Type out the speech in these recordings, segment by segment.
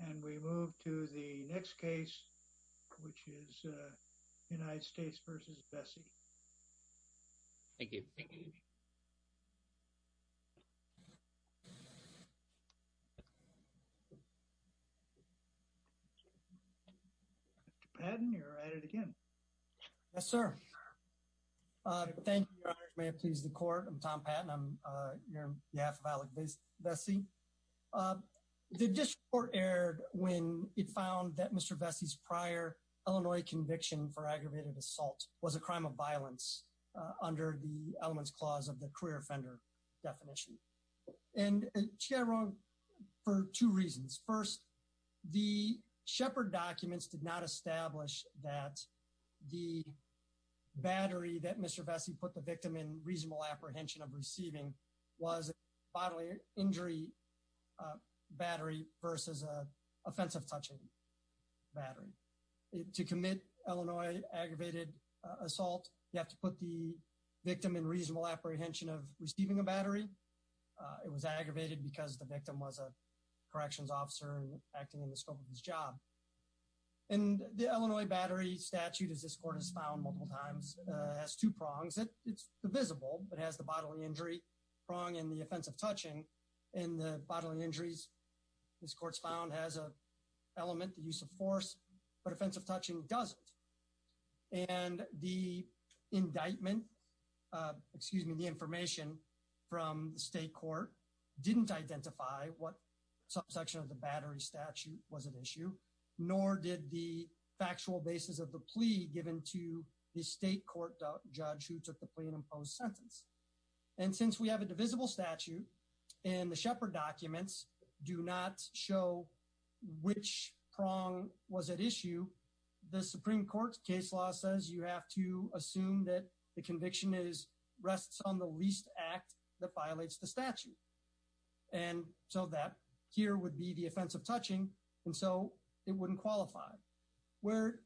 And we move to the next case, which is United States v. Vesey. Thank you. Patton, you're at it again. Yes, sir. Thank you, Your Honor. May it please the Court. I'm Tom Patton. I'm here on behalf of Elleck Vesey. The District Court erred when it found that Mr. Vesey's prior Illinois conviction for aggravated assault was a crime of violence under the elements clause of the career offender definition. And she got it wrong for two reasons. First, the Shepard documents did not establish that the battery that Mr. Vesey put the victim in reasonable apprehension of receiving was bodily injury battery versus a offensive touching battery. To commit Illinois aggravated assault, you have to put the victim in reasonable apprehension of receiving a battery. It was aggravated because the victim was a corrections officer acting in the scope of his job. And the Illinois battery statute, as this Court has found multiple times, has two prongs. It's divisible, but it has the bodily injury prong and the offensive touching. And the bodily injuries, this Court's found, has an element, the use of force, but offensive touching doesn't. And the indictment, excuse me, the information from the State Court didn't identify what subsection of the battery statute was at issue, nor did the factual basis of the plea given to the State Court judge who took the plea and imposed sentence. And since we have a divisible statute and the Shepard documents do not show which prong was at issue, the Supreme Court's case law says you have to assume that the conviction rests on the least act that violates the statute. And so that here would be the offensive touching, and so it wouldn't qualify. Where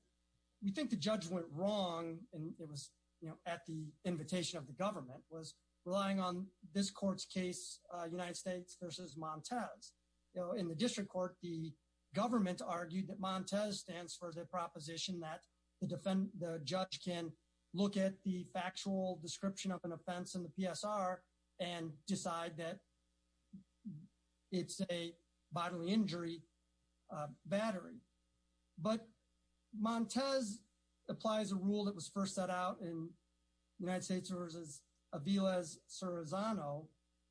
we think the judge went wrong, and it was, you know, at the invitation of the government, was relying on this Court's case, United States versus Montez. You know, in the District Court, the government argued that Montez stands for the proposition that the judge can look at the factual description of an offense in the PSR and decide that it's a bodily injury battery. But Montez applies a rule that was first set out in United States versus Aviles-Cerizano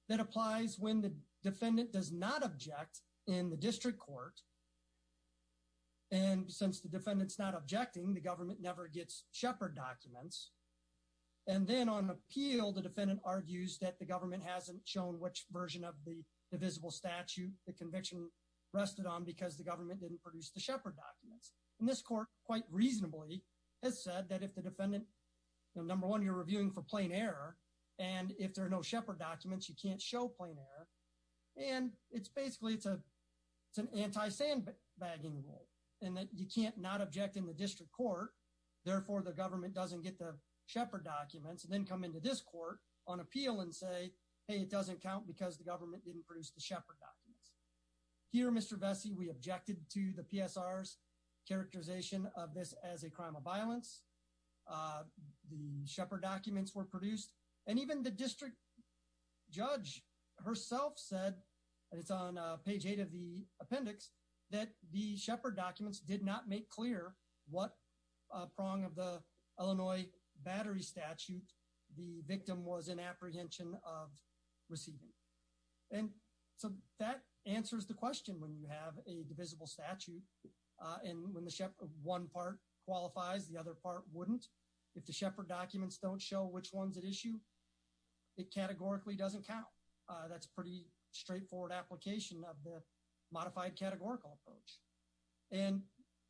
that applies when the defendant does not object in the District Court. And since the defendant's not objecting, the government never gets Shepard documents. And then on appeal, the defendant argues that the government hasn't shown which version of the divisible statute the conviction rested on because the government didn't produce the Shepard documents. And this Court, quite reasonably, has said that if the defendant, number one, you're reviewing for plain error, and if there are no Shepard documents, you can't show plain error. And it's basically, it's an anti-sandbagging rule, and that you can't not object in the District Court. Therefore, the government doesn't get the Shepard documents and then come into this Court on appeal and say, hey, it doesn't count because the government didn't produce the Shepard documents. Here, Mr. Vesey, we objected to the PSR's characterization of this as a crime of violence. The Shepard documents were produced. And even the district judge herself said, and it's on page eight of the appendix, that the Shepard documents did not make clear what prong of the Illinois battery statute the victim was in apprehension of receiving. And so that answers the question when you have a divisible statute. And when the Shepard, one part qualifies, the other part wouldn't. If the Shepard documents don't show which one's at issue, it categorically doesn't count. That's pretty straightforward application of the modified categorical approach. And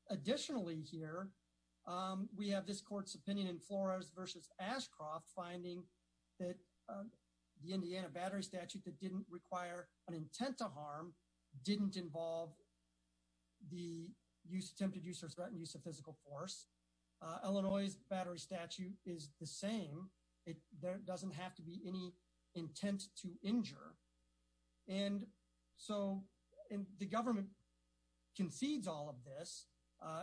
additionally here, we have this Court's opinion in Flores v. Ashcroft finding that the Indiana battery statute that didn't require an intent to harm didn't involve the attempted use or threatened use of physical force. Illinois' battery statute is the same. There doesn't have to be any intent to injure. And so the government concedes all of this.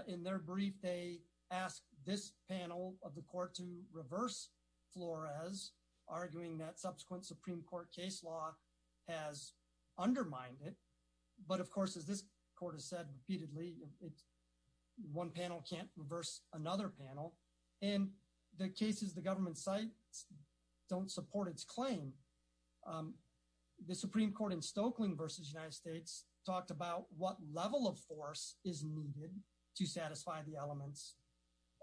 In their brief, they ask this panel of the court to reverse Flores, arguing that subsequent Supreme Court case law has undermined it. But of course, as this court has said repeatedly, one panel can't reverse another panel. And the cases the government cites don't support its claim. The Supreme Court in Stokelyn v. United States talked about what level of force is needed to satisfy the elements,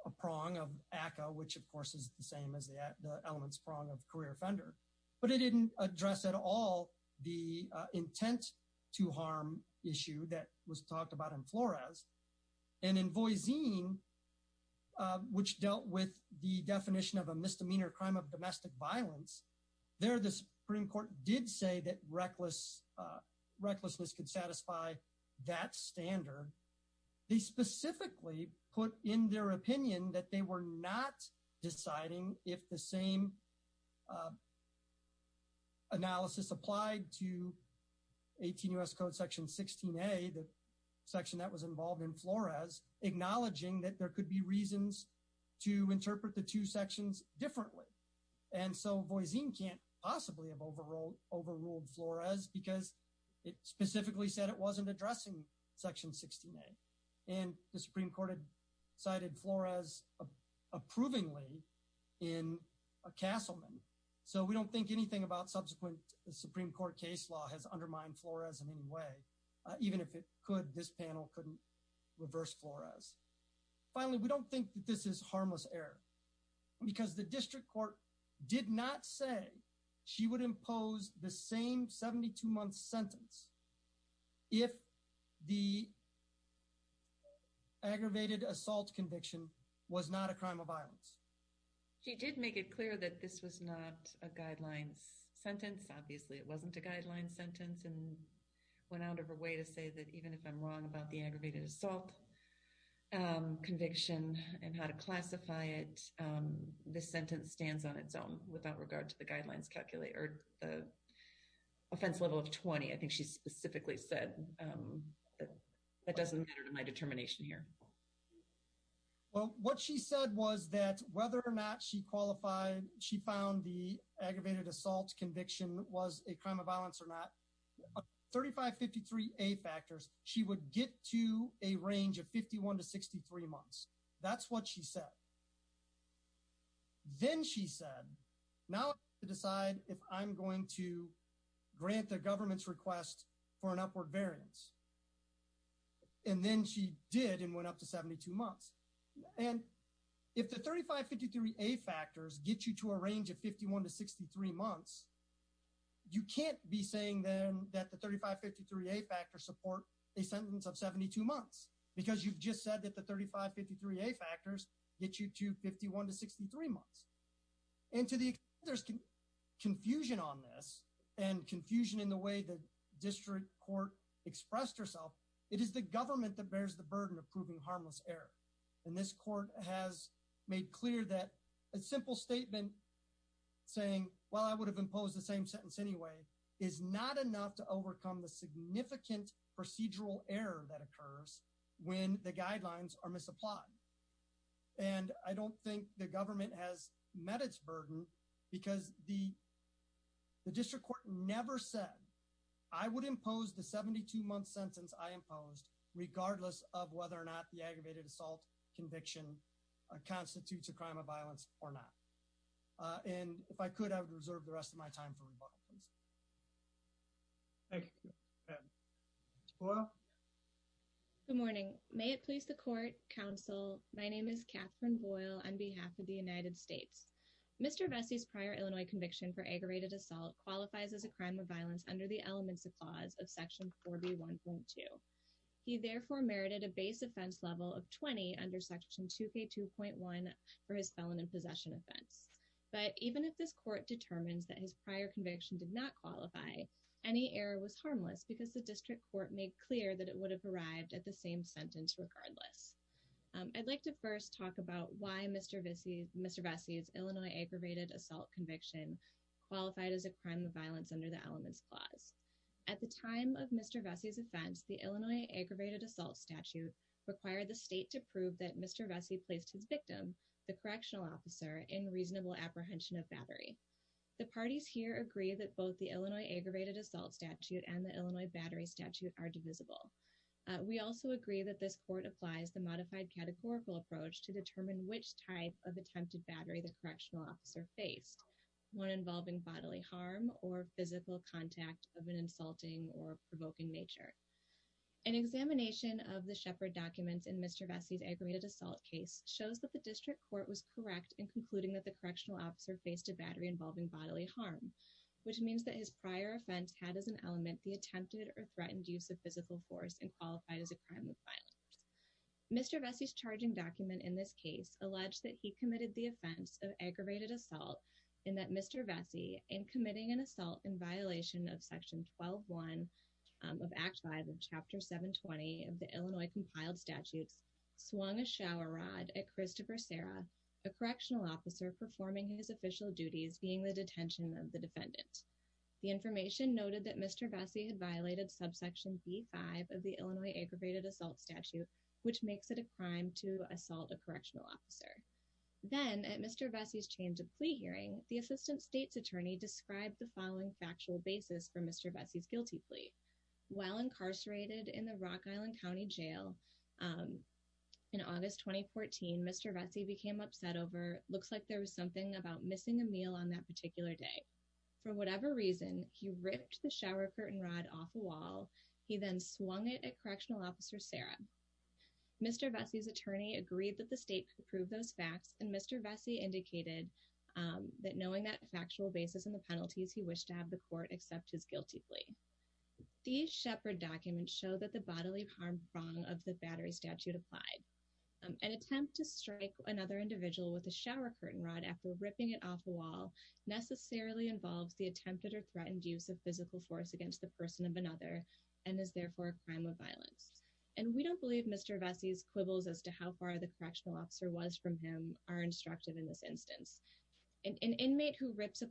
a prong of ACCA, which of course is the same as the elements prong of career offender. But it didn't address at all the intent to harm issue that was talked about in Flores. And in Voisin, which dealt with the definition of a misdemeanor crime of domestic violence, there the Supreme Court did say that recklessness could satisfy that standard. They specifically put in their opinion that they were not deciding if the same analysis applied to 18 U.S. Code section 16A, the section that was involved in Flores, acknowledging that there could be reasons to interpret the two sections differently. And so Voisin can't possibly have overruled Flores because it specifically said it wasn't addressing section 16A. And the Supreme Court had cited Flores approvingly in Castleman. So we don't think anything about subsequent Supreme Court case law has undermined Flores in any way. Even if it could, this panel couldn't reverse Flores. Finally, we don't think that this is harmless error because the district court did not say she would impose the same 72-month sentence if the aggravated assault conviction was not a crime of violence. She did make it clear that this was not a guidelines sentence. Obviously, it wasn't a guidelines sentence and went out of her way to say that even if I'm wrong about the aggravated assault conviction and how to classify it, this sentence stands on its own without regard to the guidelines calculator, the offense level of 20. I think she specifically said that doesn't matter to my determination here. Well, what she said was that whether or not she qualified, she found the aggravated assault conviction was a crime of violence or not, 3553A factors, she would get to a range of 51 to 63 months. That's what she said. Then she said, now I have to decide if I'm going to grant the government's request for an upward variance. Then she did and went up to 72 months. If the 3553A factors get you to a range of 51 to 63 months, you can't be saying then that the 3553A factors support a sentence of 72 months because you've just said that the 3553A factors get you to 51 to 63 months. And to the extent there's confusion on this and confusion in the way the district court expressed herself, it is the government that bears the burden of proving harmless error. And this court has made clear that a simple statement saying, well, I would have imposed the same sentence anyway, is not enough to overcome the significant procedural error that occurs when the guidelines are misapplied. And I don't think the government has met its burden because the district court never said, I would impose the 72-month sentence I imposed regardless of whether or not the aggravated assault conviction constitutes a crime of violence or not. And if I could, I would reserve the rest of my time for rebuttal, please. Thank you. Ms. Boyle? Good morning. May it please the court, counsel, my name is Catherine Boyle on behalf of the United States. Mr. Vesey's prior Illinois conviction for aggravated assault qualifies as a crime of violence under the elements of clause of section 4B1.2. He therefore merited a base offense level of 20 under section 2K2.1 for his felon in possession offense. But even if this court determines that his prior conviction did not qualify, any error was harmless because the district court made clear that it would have arrived at the same sentence regardless. I'd like to first talk about why Mr. Vesey's Illinois aggravated assault conviction qualified as a crime of violence under the elements clause. At the time of Mr. Vesey's offense, the Illinois aggravated assault statute required the state to prove that Mr. Vesey placed his victim, the correctional officer, in reasonable apprehension of battery. The parties here agree that both the Illinois aggravated assault statute and the Illinois battery statute are divisible. We also agree that this court applies the modified categorical approach to determine which type of attempted battery the correctional officer faced, one involving bodily harm or physical contact of an insulting or provoking nature. An examination of the Shepard documents in Mr. Vesey's aggravated assault case shows that the district court was correct in concluding that the correctional officer faced a battery involving bodily harm, which means that his prior offense had as an element the attempted or threatened use of physical force and qualified as a crime of violence. Mr. Vesey's charging document in this case alleged that he committed the offense of aggravated assault and that Mr. Vesey, in committing an assault in violation of section 12.1 of Act 5 of Chapter 720 of the Illinois Compiled Statutes, swung a shower rod at Christopher Serra, a correctional officer, performing his official duties being the detention of the defendant. The information noted that Mr. Vesey had violated subsection b5 of the Illinois aggravated assault statute, which makes it a crime to assault a correctional officer. Then, at Mr. Vesey's change of plea hearing, the assistant state's attorney described the following factual basis for Mr. Vesey's guilty plea. While incarcerated in the Rock Island County Jail in August 2014, Mr. Vesey became upset over, looks like there was something about missing a meal on that particular day. For whatever reason, he ripped the shower curtain rod off a wall. He then swung it at correctional officer Serra. Mr. Vesey's attorney agreed that the state could prove those facts and Mr. Vesey indicated that knowing that factual basis in the penalties, he wished to have the These shepherd documents show that the bodily harm wrong of the battery statute applied. An attempt to strike another individual with a shower curtain rod after ripping it off a wall necessarily involves the attempted or threatened use of physical force against the person of another and is therefore a crime of violence. And we don't believe Mr. Vesey's quibbles as to how far the correctional officer was from him are instructive in this instance. An inmate who placed the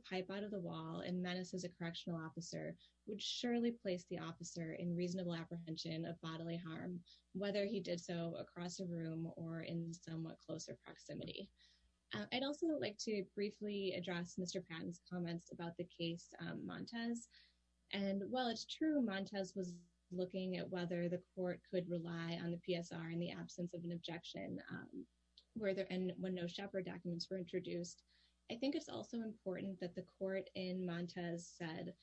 officer in reasonable apprehension of bodily harm, whether he did so across a room or in somewhat closer proximity. I'd also like to briefly address Mr. Patton's comments about the case Montez. And while it's true Montez was looking at whether the court could rely on the PSR in the absence of an objection where there and when no shepherd documents were introduced. I think it's also important that the court in Montez said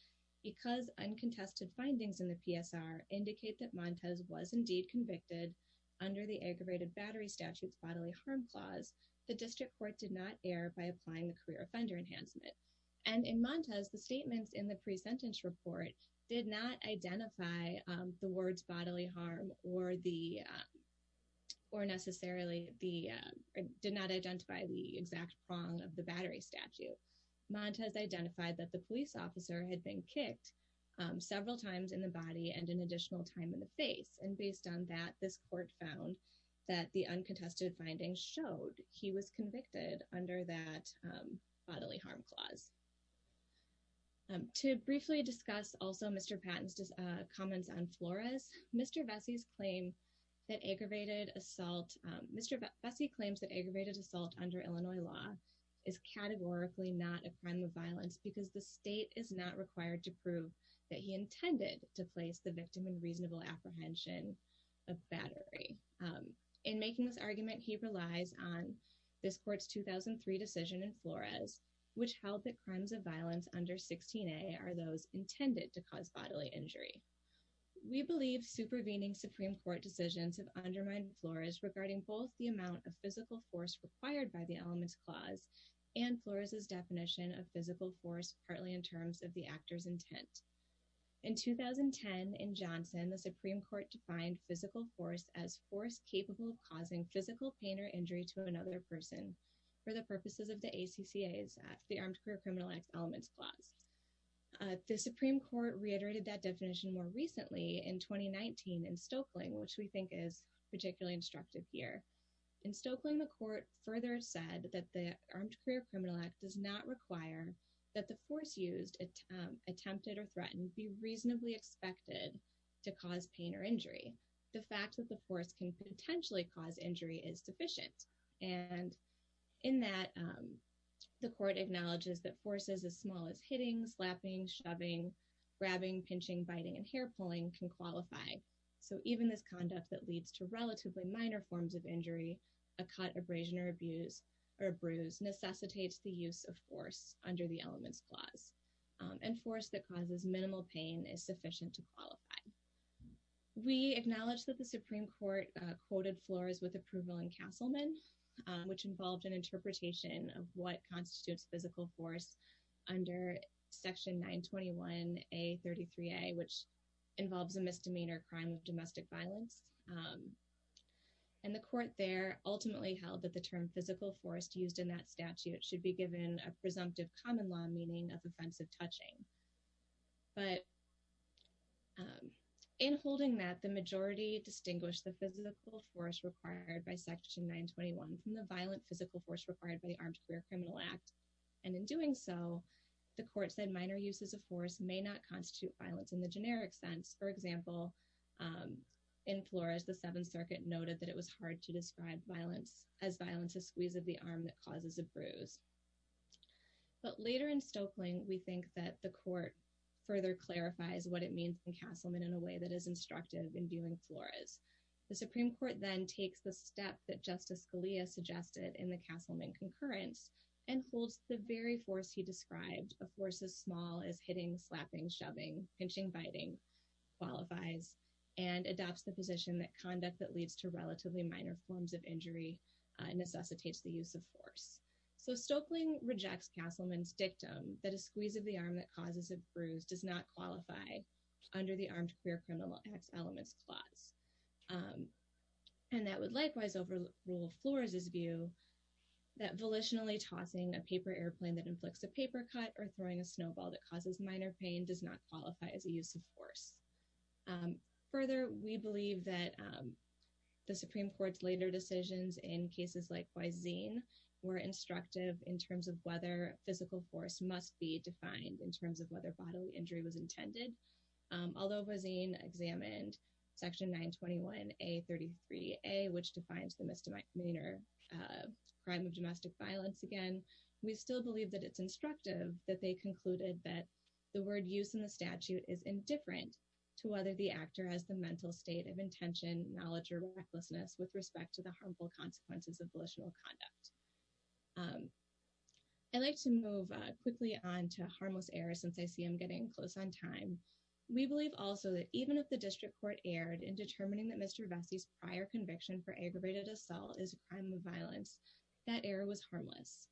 because uncontested findings in the PSR indicate that Montez was indeed convicted under the aggravated battery statutes bodily harm clause. The district court did not air by applying the career offender enhancement and in Montez, the statements in the pre-sentence report did not identify the words bodily harm or the or necessarily the did not identify the exact prong of the battery statue. Montez identified that the police officer had been kicked several times in the body and an additional time in the face. And based on that this court found that the uncontested findings showed he was convicted under that bodily harm clause. To briefly discuss also Mr. Patton's comments on Flores, Mr. Vesey's claim that aggravated assault, Mr. Vesey claims that aggravated assault under Illinois law is categorically not a crime of violence because the state is not required to prove that he intended to place the victim in reasonable apprehension of battery. In making this argument he relies on this court's 2003 decision in Flores which held that crimes of violence under 16a are intended to cause bodily injury. We believe supervening Supreme Court decisions have undermined Flores regarding both the amount of physical force required by the elements clause and Flores's definition of physical force partly in terms of the actor's intent. In 2010 in Johnson the Supreme Court defined physical force as force capable of causing physical pain or injury to another person for the purposes of the ACCA's the Armed Career Elements Clause. The Supreme Court reiterated that definition more recently in 2019 in Stokely which we think is particularly instructive here. In Stokely the court further said that the Armed Career Criminal Act does not require that the force used attempted or threatened be reasonably expected to cause pain or injury. The fact that the force can potentially cause injury is sufficient and in that the court acknowledges that forces as small as hitting slapping shoving grabbing pinching biting and hair pulling can qualify so even this conduct that leads to relatively minor forms of injury a cut abrasion or abuse or a bruise necessitates the use of force under the elements clause and force that causes minimal pain is sufficient to qualify. We acknowledge that the Supreme Court quoted Flores with approval in Castleman which involved an interpretation of what constitutes physical force under section 921 a 33 a which involves a misdemeanor crime of domestic violence and the court there ultimately held that the term physical force used in that statute should be given a presumptive common law meaning of offensive touching but in holding that majority distinguish the physical force required by section 921 from the violent physical force required by the Armed Career Criminal Act and in doing so the court said minor uses of force may not constitute violence in the generic sense for example in Flores the seventh circuit noted that it was hard to describe violence as violence a squeeze of the arm that causes a bruise but later in Stokely we think that the court further clarifies what it means in Castleman in a way that is instructive in viewing Flores the Supreme Court then takes the step that Justice Scalia suggested in the Castleman concurrence and holds the very force he described a force as small as hitting slapping shoving pinching biting qualifies and adopts the position that conduct that leads to relatively minor forms of injury necessitates the use of force so Stokely rejects Castleman's dictum that a squeeze of the arm that causes a bruise does not qualify under the Armed Career Criminal Acts Elements Clause and that would likewise overrule Flores's view that volitionally tossing a paper airplane that inflicts a paper cut or throwing a snowball that causes minor pain does not qualify as a use of force further we believe that the Supreme Court's later decisions in cases likewise zine were instructive in terms of whether physical force must be defined in terms of whether bodily injury was intended although Rosine examined section 921 a 33 a which defines the misdemeanor uh crime of domestic violence again we still believe that it's instructive that they concluded that the word use in the statute is indifferent to whether the actor has the mental state of intention knowledge or recklessness with respect to the harmful consequences of volitional conduct um I'd like to move quickly on to harmless error since I see I'm getting close on time we believe also that even if the district court erred in determining that Mr. Vessi's prior conviction for aggravated assault is a crime of violence that error was harmless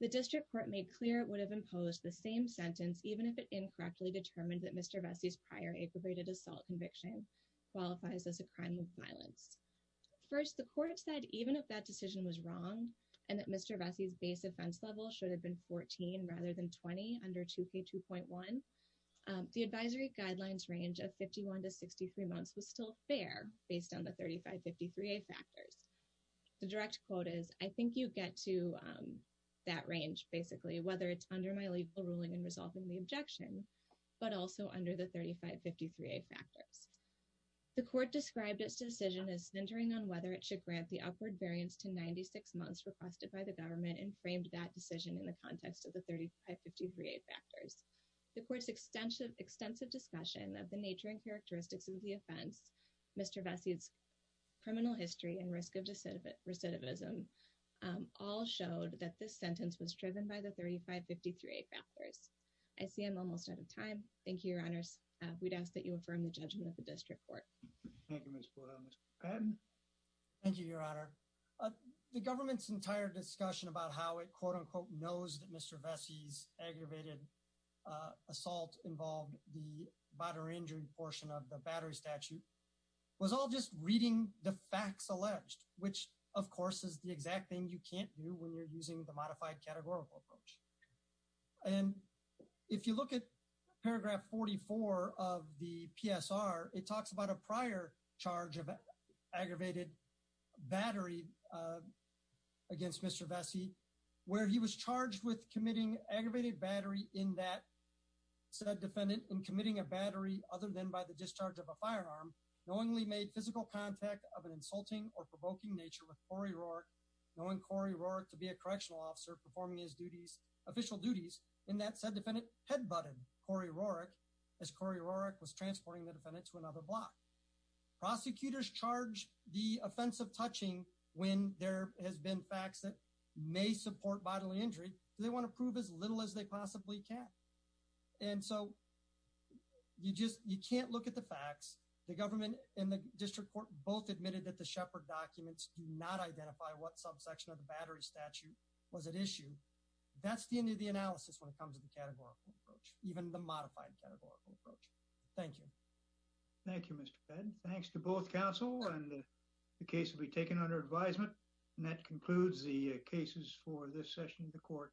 the district court made clear it would have imposed the same sentence even if it incorrectly determined that Mr. Vessi's prior aggravated assault conviction qualifies as a crime of violence first the court said even if that decision was wrong and that Mr. Vessi's base offense level should have been 14 rather than 20 under 2k 2.1 the advisory guidelines range of 51 to 63 months was still fair based on the 35 53a factors the direct quote is I think you get to um that range basically whether it's under my legal ruling resolving the objection but also under the 35 53a factors the court described its decision as centering on whether it should grant the upward variance to 96 months requested by the government and framed that decision in the context of the 35 53a factors the court's extensive extensive discussion of the nature and characteristics of the offense Mr. Vessi's criminal history and risk recidivism all showed that this sentence was driven by the 35 53a factors I see I'm almost out of time thank you your honors we'd ask that you affirm the judgment of the district court thank you your honor the government's entire discussion about how it quote unquote knows that Mr. Vessi's aggravated assault involved the body injury portion of the battery statute was all just reading the facts alleged which of course is the exact thing you can't do when you're using the modified categorical approach and if you look at paragraph 44 of the PSR it talks about a prior charge of aggravated battery against Mr. Vessi where he was charged with committing aggravated battery in that said defendant in committing a battery other than by discharge of a firearm knowingly made physical contact of an insulting or provoking nature with Corey Rourke knowing Corey Rourke to be a correctional officer performing his duties official duties in that said defendant headbutted Corey Rourke as Corey Rourke was transporting the defendant to another block prosecutors charge the offense of touching when there has been facts that may support bodily injury do they want to prove as little as they possibly can and so you just you can't look at the facts the government and the district court both admitted that the shepherd documents do not identify what subsection of the battery statute was at issue that's the end of the analysis when it comes to the categorical approach even the modified categorical approach thank you thank you Mr. Fed thanks to both council and the case will be taken under advisement and that concludes the cases for this session of the court